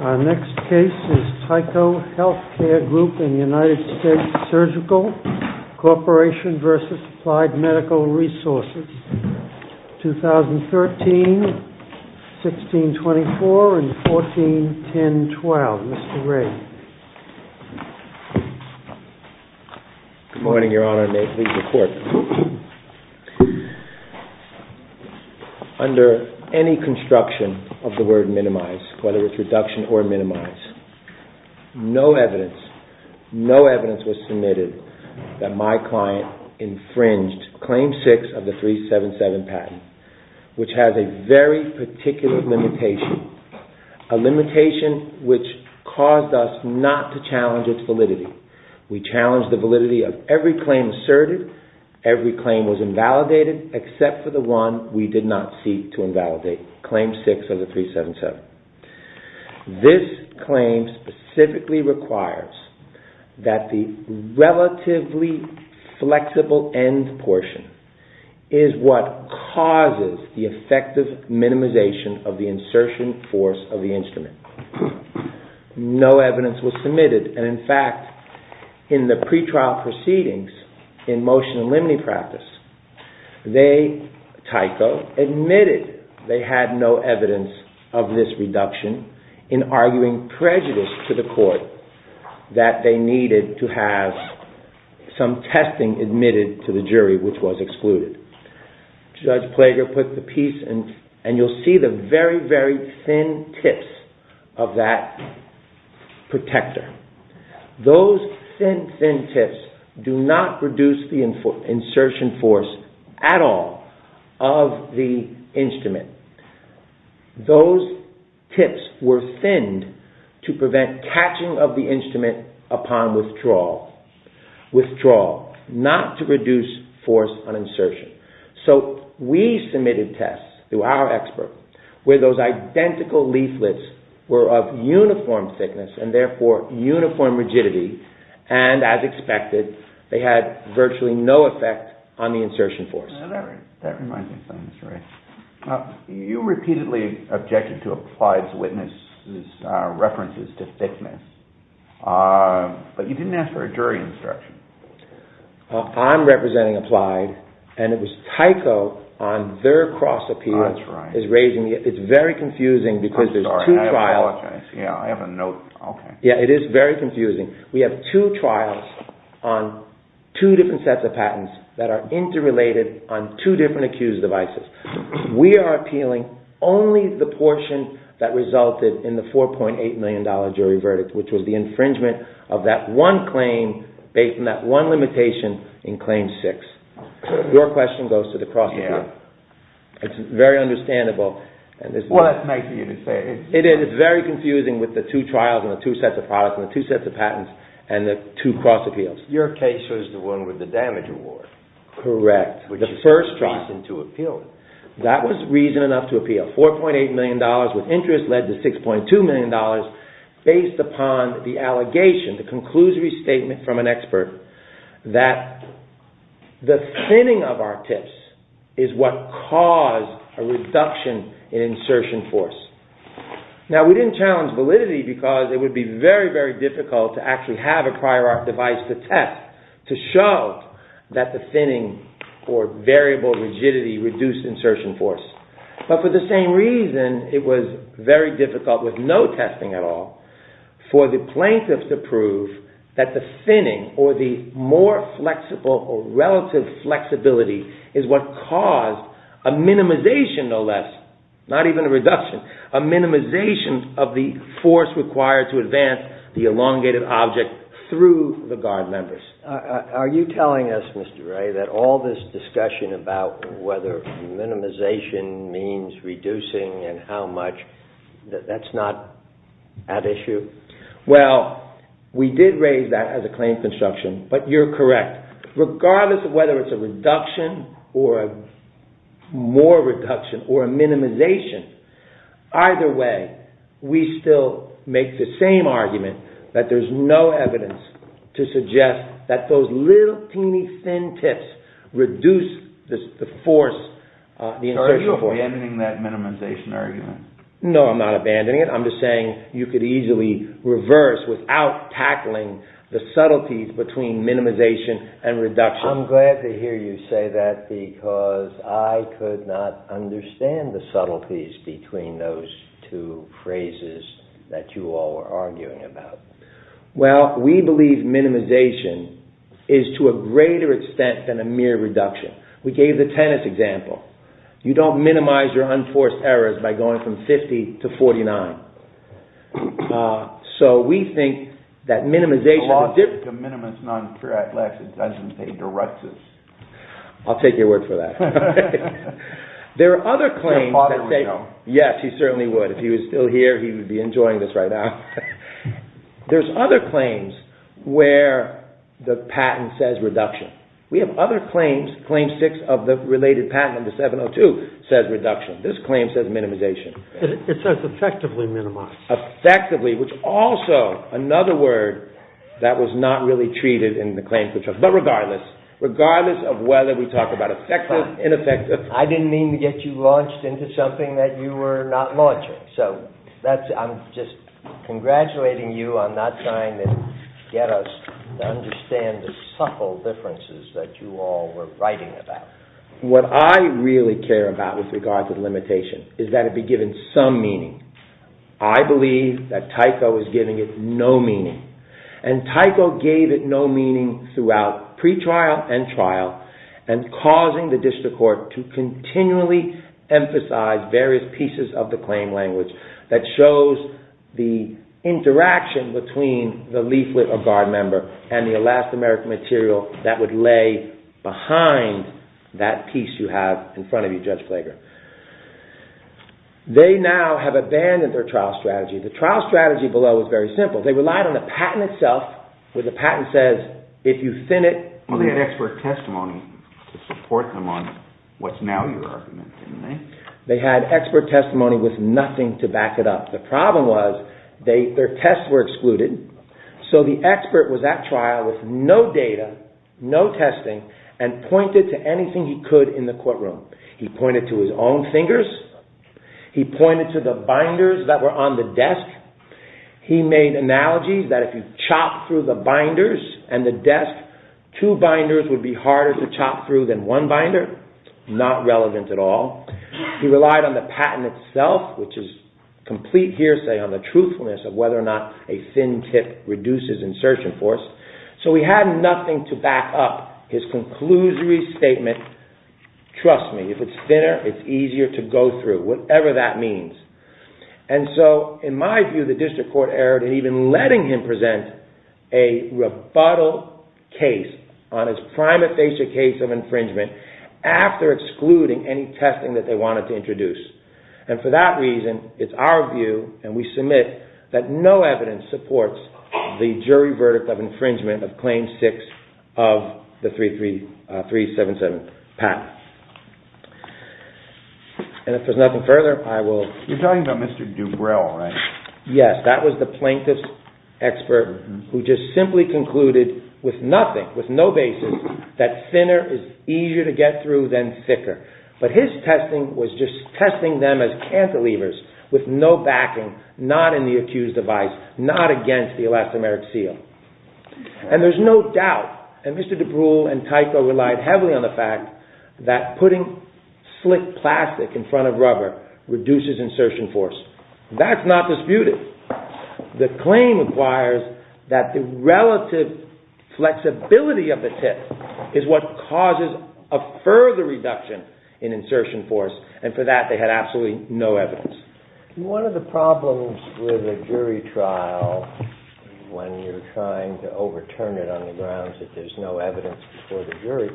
Our next case is Tyco Healthcare Group in the United States Surgical Corporation v. Applied Medical Resources, 2013-1624 and 14-10-12. Mr. Ray. Good morning, Your Honor, and may it please the Court. Under any construction of the word minimize, whether it's reduction or minimize, no evidence, no evidence was submitted that my client infringed Claim 6 of the 377 patent, which has a very particular limitation. A limitation which caused us not to challenge its validity. We challenged the validity of every claim asserted. Every claim was invalidated except for the one we did not seek to invalidate, Claim 6 of the 377. This claim specifically requires that the relatively flexible end portion is what causes the effective minimization of the insertion force of the instrument. No evidence was submitted. In fact, in the pre-trial proceedings in motion limine practice, Tyco admitted they had no evidence of this reduction in arguing prejudice to the Court that they needed to have some testing admitted to the jury which was excluded. Judge Plager put the piece and you'll see the very, very thin tips of that protector. Those thin, thin tips do not reduce the insertion force at all of the instrument. Those tips were thinned to prevent catching of the instrument upon withdrawal. Withdrawal, not to reduce force on insertion. So we submitted tests through our experts where those identical leaflets were of uniform thickness and therefore uniform rigidity and as expected, they had virtually no effect on the insertion force. You repeatedly objected to Applied's witnesses' references to thickness, but you didn't ask for a jury instruction. I'm representing Applied and it was Tyco on their cross-appeal. It's very confusing because there's two trials. I'm sorry, I apologize. I have a note. Your question goes to the cross-appeal. It's very understandable. Well, that's nice of you to say. It is. It's very confusing with the two trials and the two sets of products and the two sets of patents and the two cross-appeals. Your case was the one with the damage award. Correct. The first trial. Which is reason to appeal it. That was reason enough to appeal. $4.8 million with interest led to $6.2 million based upon the allegation, the conclusory statement from an expert that the thinning of our tips is what caused a reduction in insertion force. Now, we didn't challenge validity because it would be very, very difficult to actually have a prior art device to test to show that the thinning or variable rigidity reduced insertion force. But for the same reason, it was very difficult with no testing at all for the plaintiff to prove that the thinning or the more flexible or relative flexibility is what caused a minimization, no less, not even a reduction, a minimization of the force required to advance the elongated object through the guard members. Are you telling us, Mr. Ray, that all this discussion about whether minimization means reducing and how much, that's not at issue? Well, we did raise that as a claim construction, but you're correct. Regardless of whether it's a reduction or a more reduction or a minimization, either way, we still make the same argument that there's no evidence to suggest that those little teeny thin tips reduce the force, the insertion force. Are you abandoning that minimization argument? No, I'm not abandoning it. I'm just saying you could easily reverse without tackling the subtleties between minimization and reduction. I'm glad to hear you say that because I could not understand the subtleties between those two phrases that you all are arguing about. Well, we believe minimization is to a greater extent than a mere reduction. We gave the tennis example. You don't minimize your unforced errors by going from 50 to 49. I'll take your word for that. Yes, he certainly would. If he was still here, he would be enjoying this right now. There's other claims where the patent says reduction. We have other claims. Claim six of the related patent under 702 says reduction. This claim says minimization. It says effectively minimize. Effectively, which also, another word that was not really treated in the claims, but regardless, regardless of whether we talk about effective, ineffective. I didn't mean to get you launched into something that you were not launching. So, I'm just congratulating you on not trying to get us to understand the subtle differences that you all were writing about. What I really care about with regard to the limitation is that it be given some meaning. I believe that Tycho is giving it no meaning. And Tycho gave it no meaning throughout pre-trial and trial, and causing the district court to continually emphasize various pieces of the claim language that shows the interaction between the leaflet of guard member and the Alaska American material that would lay behind that piece you have in front of you, Judge Flager. They now have abandoned their trial strategy. The trial strategy below is very simple. They relied on the patent itself, where the patent says, if you thin it… Well, they had expert testimony to support them on what's now your argument, didn't they? They had expert testimony with nothing to back it up. The problem was their tests were excluded, so the expert was at trial with no data, no testing, and pointed to anything he could in the courtroom. He pointed to his own fingers. He pointed to the binders that were on the desk. He made analogies that if you chopped through the binders and the desk, two binders would be harder to chop through than one binder. Not relevant at all. He relied on the patent itself, which is complete hearsay on the truthfulness of whether or not a thin tip reduces insertion force. So he had nothing to back up his conclusory statement, trust me, if it's thinner, it's easier to go through, whatever that means. And so, in my view, the district court erred in even letting him present a rebuttal case on his prima facie case of infringement after excluding any testing that they wanted to introduce. And for that reason, it's our view, and we submit, that no evidence supports the jury verdict of infringement of Claim 6 of the 377 patent. And if there's nothing further, I will... You're talking about Mr. Dubril, right? Yes, that was the plaintiff's expert who just simply concluded with nothing, with no basis, that thinner is easier to get through than thicker. But his testing was just testing them as cantilevers with no backing, not in the accused's advice, not against the elastomeric seal. And there's no doubt, and Mr. Dubril and Tyco relied heavily on the fact that putting slick plastic in front of rubber reduces insertion force. That's not disputed. The claim requires that the relative flexibility of the tip is what causes a further reduction in insertion force, and for that they had absolutely no evidence. One of the problems with a jury trial, when you're trying to overturn it on the grounds that there's no evidence before the jury,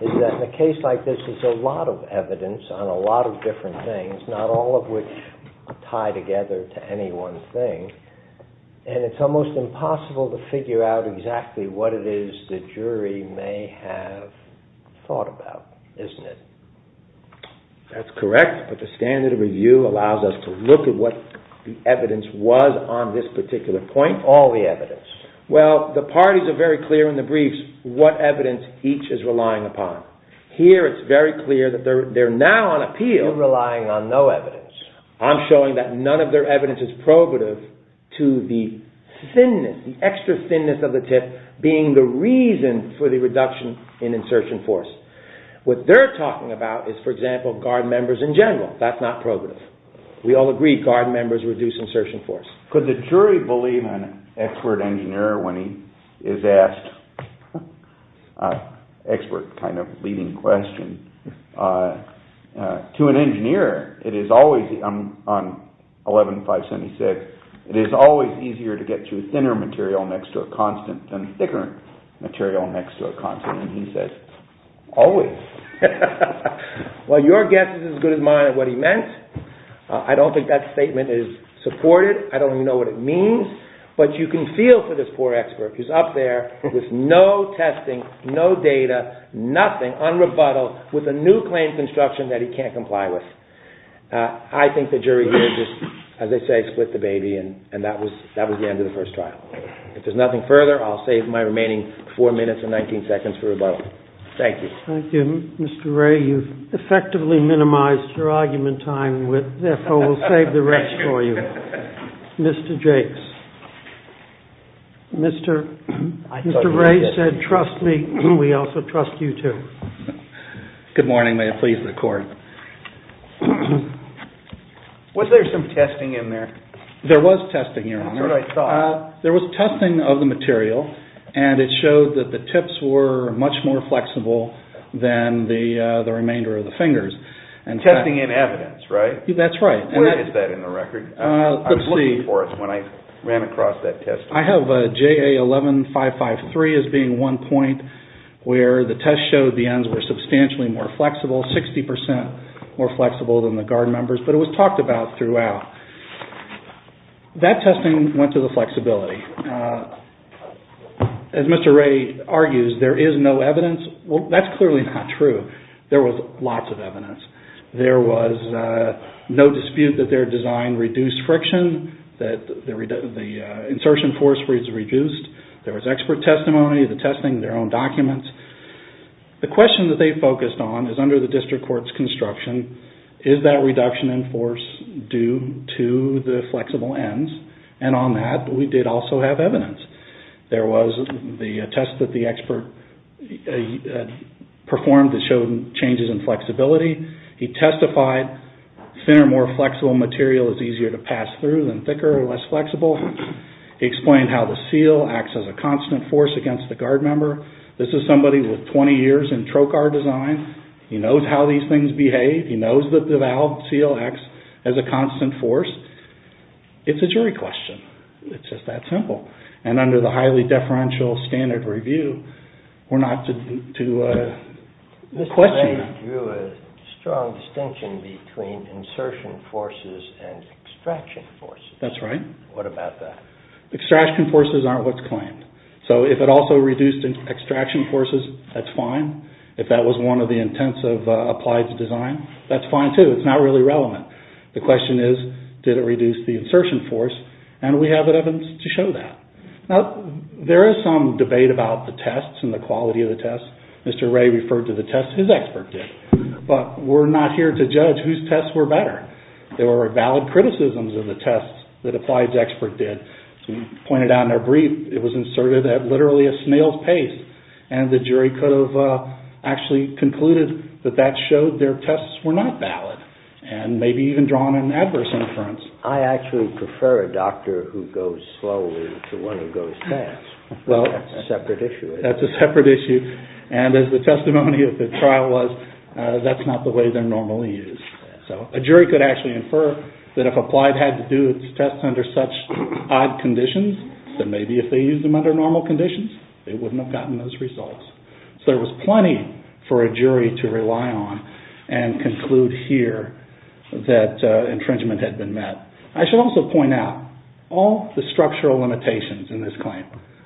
is that in a case like this, there's a lot of evidence on a lot of different things, not all of which tie together to any one thing. And it's almost impossible to figure out exactly what it is the jury may have thought about, isn't it? That's correct, but the standard of review allows us to look at what the evidence was on this particular point. All the evidence. Well, the parties are very clear in the briefs what evidence each is relying upon. Here it's very clear that they're now on appeal. You're relying on no evidence. I'm showing that none of their evidence is probative to the thinness, the extra thinness of the tip being the reason for the reduction in insertion force. What they're talking about is, for example, guard members in general. That's not probative. We all agree guard members reduce insertion force. Could the jury believe an expert engineer when he is asked an expert kind of leading question? To an engineer, it is always, on 11-576, it is always easier to get to thinner material next to a constant than thicker material next to a constant. He says, always. Well, your guess is as good as mine at what he meant. I don't think that statement is supported. I don't even know what it means. But you can feel for this poor expert who's up there with no testing, no data, nothing, unrebuttal, with a new claim construction that he can't comply with. I think the jury here just, as they say, split the baby, and that was the end of the first trial. If there's nothing further, I'll save my remaining 4 minutes and 19 seconds for rebuttal. Thank you. Thank you. Mr. Ray, you've effectively minimized your argument time. Therefore, we'll save the rest for you. Mr. Jakes. Mr. Ray said, trust me. We also trust you, too. Good morning. Was there some testing in there? There was testing, Your Honor. That's what I thought. There was testing of the material, and it showed that the tips were much more flexible than the remainder of the fingers. Testing in evidence, right? That's right. Where is that in the record? I was looking for it when I ran across that test. I have JA 11553 as being one point where the test showed the ends were substantially more flexible, 60% more flexible than the guard members. But it was talked about throughout. That testing went to the flexibility. As Mr. Ray argues, there is no evidence. Well, that's clearly not true. There was lots of evidence. There was no dispute that their design reduced friction, that the insertion force was reduced. There was expert testimony, the testing, their own documents. The question that they focused on is under the district court's construction, is that reduction in force due to the flexible ends? And on that, we did also have evidence. There was the test that the expert performed that showed changes in flexibility. He testified thinner, more flexible material is easier to pass through than thicker or less flexible. He explained how the seal acts as a constant force against the guard member. This is somebody with 20 years in trocar design. He knows how these things behave. He knows that the valve seal acts as a constant force. It's a jury question. It's just that simple. And under the highly deferential standard review, we're not to question. Mr. Ray drew a strong distinction between insertion forces and extraction forces. What about that? Extraction forces aren't what's claimed. So if it also reduced extraction forces, that's fine. If that was one of the intents of Applied's design, that's fine too. It's not really relevant. The question is, did it reduce the insertion force? And we have evidence to show that. Now, there is some debate about the tests and the quality of the tests. Mr. Ray referred to the tests his expert did. But we're not here to judge whose tests were better. There were valid criticisms of the tests that Applied's expert did. As we pointed out in our brief, it was inserted at literally a snail's pace. And the jury could have actually concluded that that showed their tests were not valid. And maybe even drawn an adverse inference. I actually prefer a doctor who goes slowly to one who goes fast. That's a separate issue. That's a separate issue. And as the testimony of the trial was, that's not the way they're normally used. So a jury could actually infer that if Applied had to do its tests under such odd conditions, that maybe if they used them under normal conditions, they wouldn't have gotten those results. So there was plenty for a jury to rely on and conclude here that intringement had been met. I should also point out, all the structural limitations in this claim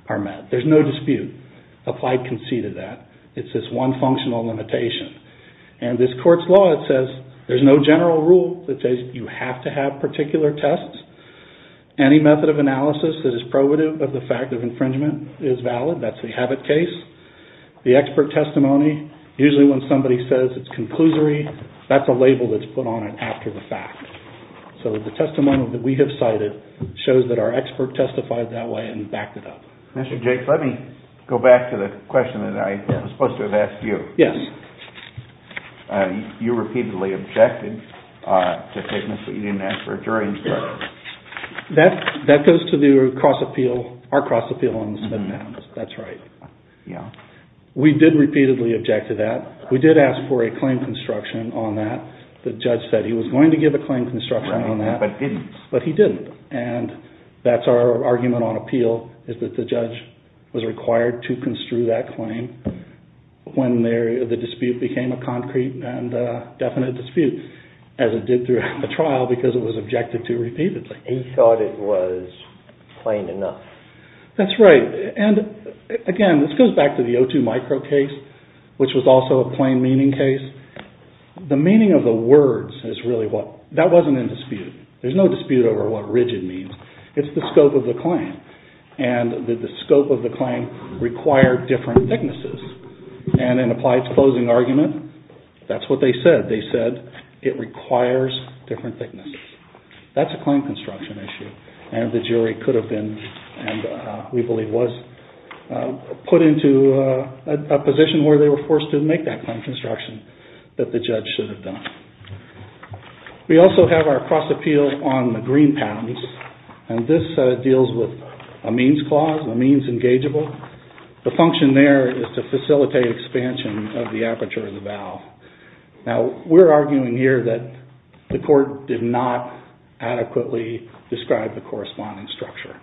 are met. There's no dispute. Applied conceded that. It's this one functional limitation. And this court's law, it says there's no general rule that says you have to have particular tests. Any method of analysis that is probative of the fact of infringement is valid. That's the habit case. The expert testimony, usually when somebody says it's conclusory, that's a label that's put on it after the fact. So the testimony that we have cited shows that our expert testified that way and backed it up. Mr. Jacobs, let me go back to the question that I was supposed to have asked you. Yes. You repeatedly objected to statements that you didn't ask for during the trial. That goes to our cross-appeal on the spent pounds. That's right. Yeah. We did repeatedly object to that. We did ask for a claim construction on that. The judge said he was going to give a claim construction on that. But didn't. But he didn't. And that's our argument on appeal, is that the judge was required to construe that claim when the dispute became a concrete and definite dispute, as it did during the trial because it was objected to repeatedly. He thought it was plain enough. That's right. And, again, this goes back to the O2 micro case, which was also a plain meaning case. The meaning of the words is really what – that wasn't in dispute. There's no dispute over what rigid means. It's the scope of the claim. And did the scope of the claim require different thicknesses? And in Applied's closing argument, that's what they said. They said it requires different thicknesses. That's a claim construction issue. And the jury could have been, and we believe was, put into a position where they were forced to make that claim construction that the judge should have done. We also have our cross appeal on the green patents. And this deals with a means clause, a means engageable. The function there is to facilitate expansion of the aperture of the valve. Now, we're arguing here that the court did not adequately describe the corresponding structure.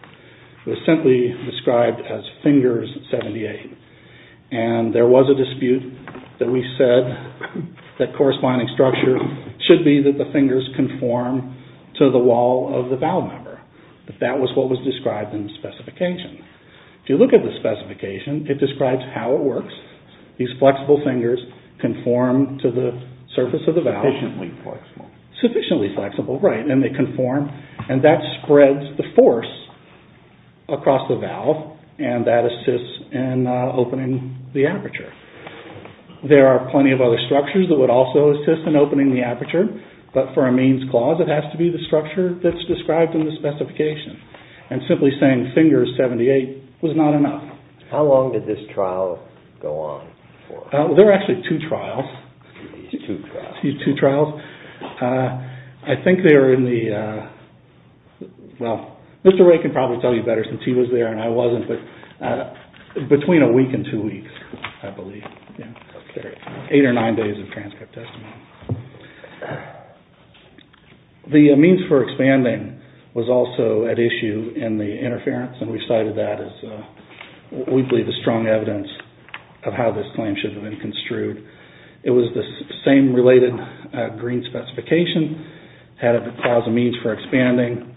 It was simply described as fingers 78. And there was a dispute that we said that corresponding structure should be that the fingers conform to the wall of the valve member. That was what was described in the specification. If you look at the specification, it describes how it works. These flexible fingers conform to the surface of the valve. Sufficiently flexible. Sufficiently flexible, right. And they conform. And that spreads the force across the valve. And that assists in opening the aperture. There are plenty of other structures that would also assist in opening the aperture. But for a means clause, it has to be the structure that's described in the specification. And simply saying fingers 78 was not enough. How long did this trial go on for? There are actually two trials. Two trials. Two trials. I think they were in the, well, Mr. Ray can probably tell you better since he was there and I wasn't. But between a week and two weeks, I believe. Eight or nine days of transcript testimony. The means for expanding was also at issue in the interference. And we cited that as, we believe, as strong evidence of how this claim should have been construed. It was the same related green specification. Had a clause of means for expanding.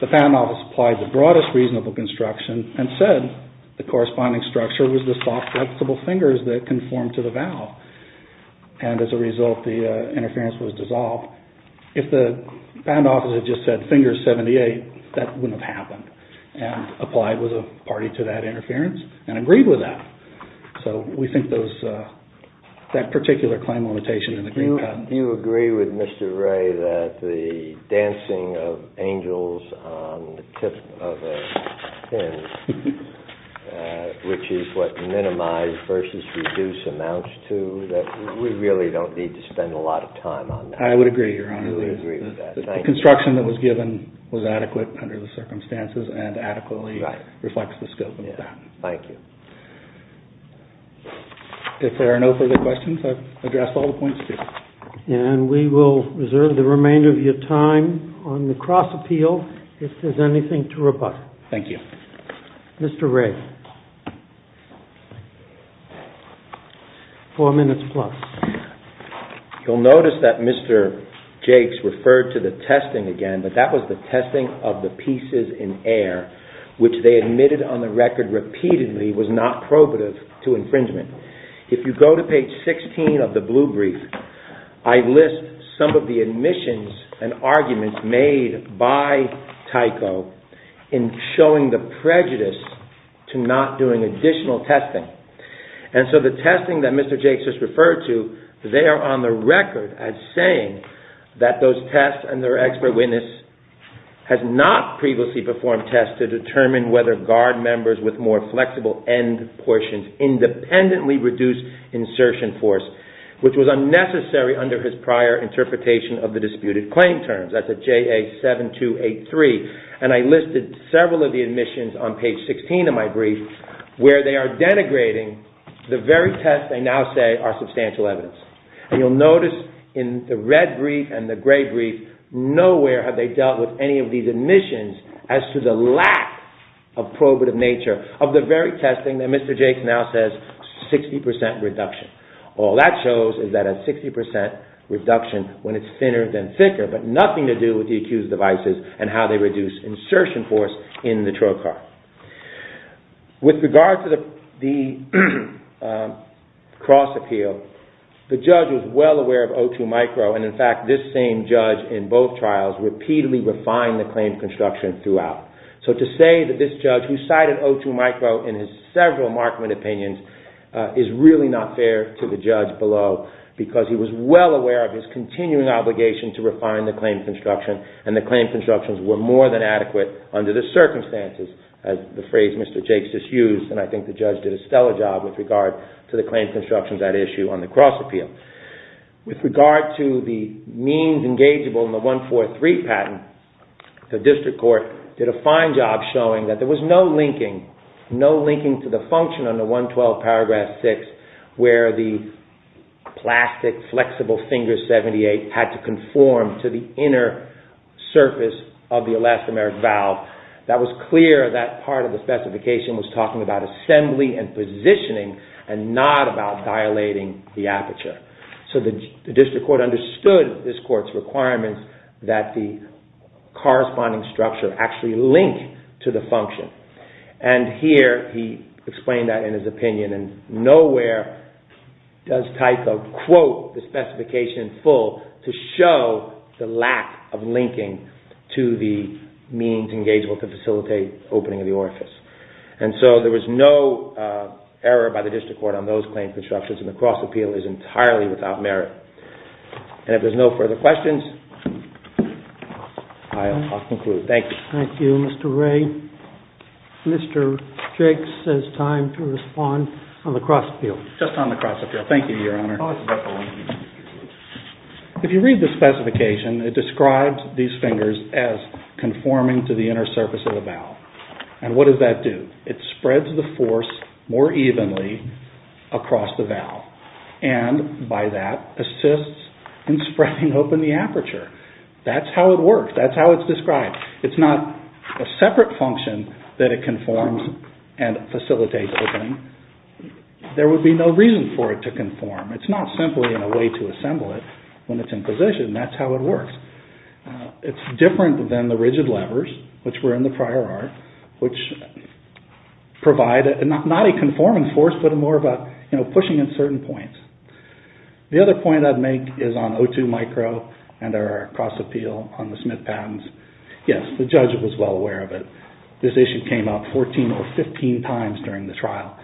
The patent office applied the broadest reasonable construction and said the corresponding structure was the soft flexible fingers that conform to the valve. And as a result, the interference was dissolved. If the patent office had just said fingers 78, that wouldn't have happened. And applied with a party to that interference and agreed with that. So we think that particular claim limitation in the green patent. Do you agree with Mr. Ray that the dancing of angels on the tip of a pin, which is what minimize versus reduce amounts to, that we really don't need to spend a lot of time on that? I would agree, Your Honor. I would agree with that. The construction that was given was adequate under the circumstances and adequately reflects the scope of the patent. Thank you. If there are no further questions, I've addressed all the points, too. And we will reserve the remainder of your time on the cross appeal if there's anything to rebut. Thank you. Mr. Ray. Four minutes plus. You'll notice that Mr. Jakes referred to the testing again, but that was the testing of the pieces in air, which they admitted on the record repeatedly was not probative to infringement. If you go to page 16 of the blue brief, I list some of the admissions and arguments made by Tyco in showing the prejudice to not doing additional testing. And so the testing that Mr. Jakes just referred to, they are on the record as saying that those tests and their expert witness has not previously performed tests to determine whether guard members with more flexible end portions independently reduce insertion force, which was unnecessary under his prior interpretation of the disputed claim terms. That's at JA7283. And I listed several of the admissions on page 16 of my brief where they are denigrating the very tests they now say are substantial evidence. And you'll notice in the red brief and the gray brief, nowhere have they dealt with any of these admissions as to the lack of probative nature of the very testing that Mr. Jakes now says 60 percent reduction. All that shows is that a 60 percent reduction when it's thinner than thicker, but nothing to do with the accused's devices and how they reduce insertion force in the trail card. With regard to the cross appeal, the judge was well aware of O2 micro, and in fact, this same judge in both trials repeatedly refined the claim construction throughout. So to say that this judge who cited O2 micro in his several Markman opinions is really not fair to the judge below, because he was well aware of his continuing obligation to refine the claim construction, and the claim constructions were more than adequate under the circumstances, as the phrase Mr. Jakes just used. And I think the judge did a stellar job with regard to the claim constructions at issue on the cross appeal. With regard to the means engageable in the 143 patent, the district court did a fine job showing that there was no linking, no linking to the function under 112 paragraph 6 where the plastic flexible finger 78 had to conform to the inner surface of the elastomeric valve. That was clear that part of the specification was talking about assembly and positioning and not about dilating the aperture. So the district court understood this court's requirements that the corresponding structure actually linked to the function. And here he explained that in his opinion, and nowhere does Tyco quote the specification full to show the lack of linking to the means engageable to facilitate opening of the orifice. And so there was no error by the district court on those claim constructions, and the cross appeal is entirely without merit. And if there's no further questions, I'll conclude. Thank you. Thank you, Mr. Ray. Mr. Jakes, it's time to respond on the cross appeal. Just on the cross appeal. Thank you, Your Honor. If you read the specification, it describes these fingers as conforming to the inner surface of the valve. And what does that do? It spreads the force more evenly across the valve. And by that, assists in spreading open the aperture. That's how it works. That's how it's described. It's not a separate function that it conforms and facilitates opening. There would be no reason for it to conform. It's not simply a way to assemble it when it's in position. That's how it works. It's different than the rigid levers, which were in the prior art, which provide not a conforming force, but more about pushing in certain points. The other point I'd make is on O2 micro and our cross appeal on the Smith patents. Yes, the judge was well aware of it. This issue came up 14 or 15 times during the trial.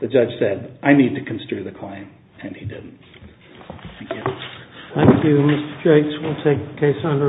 The judge said, I need to construe the claim, and he didn't. Thank you. Thank you, Mr. Jakes. We'll take the case under review.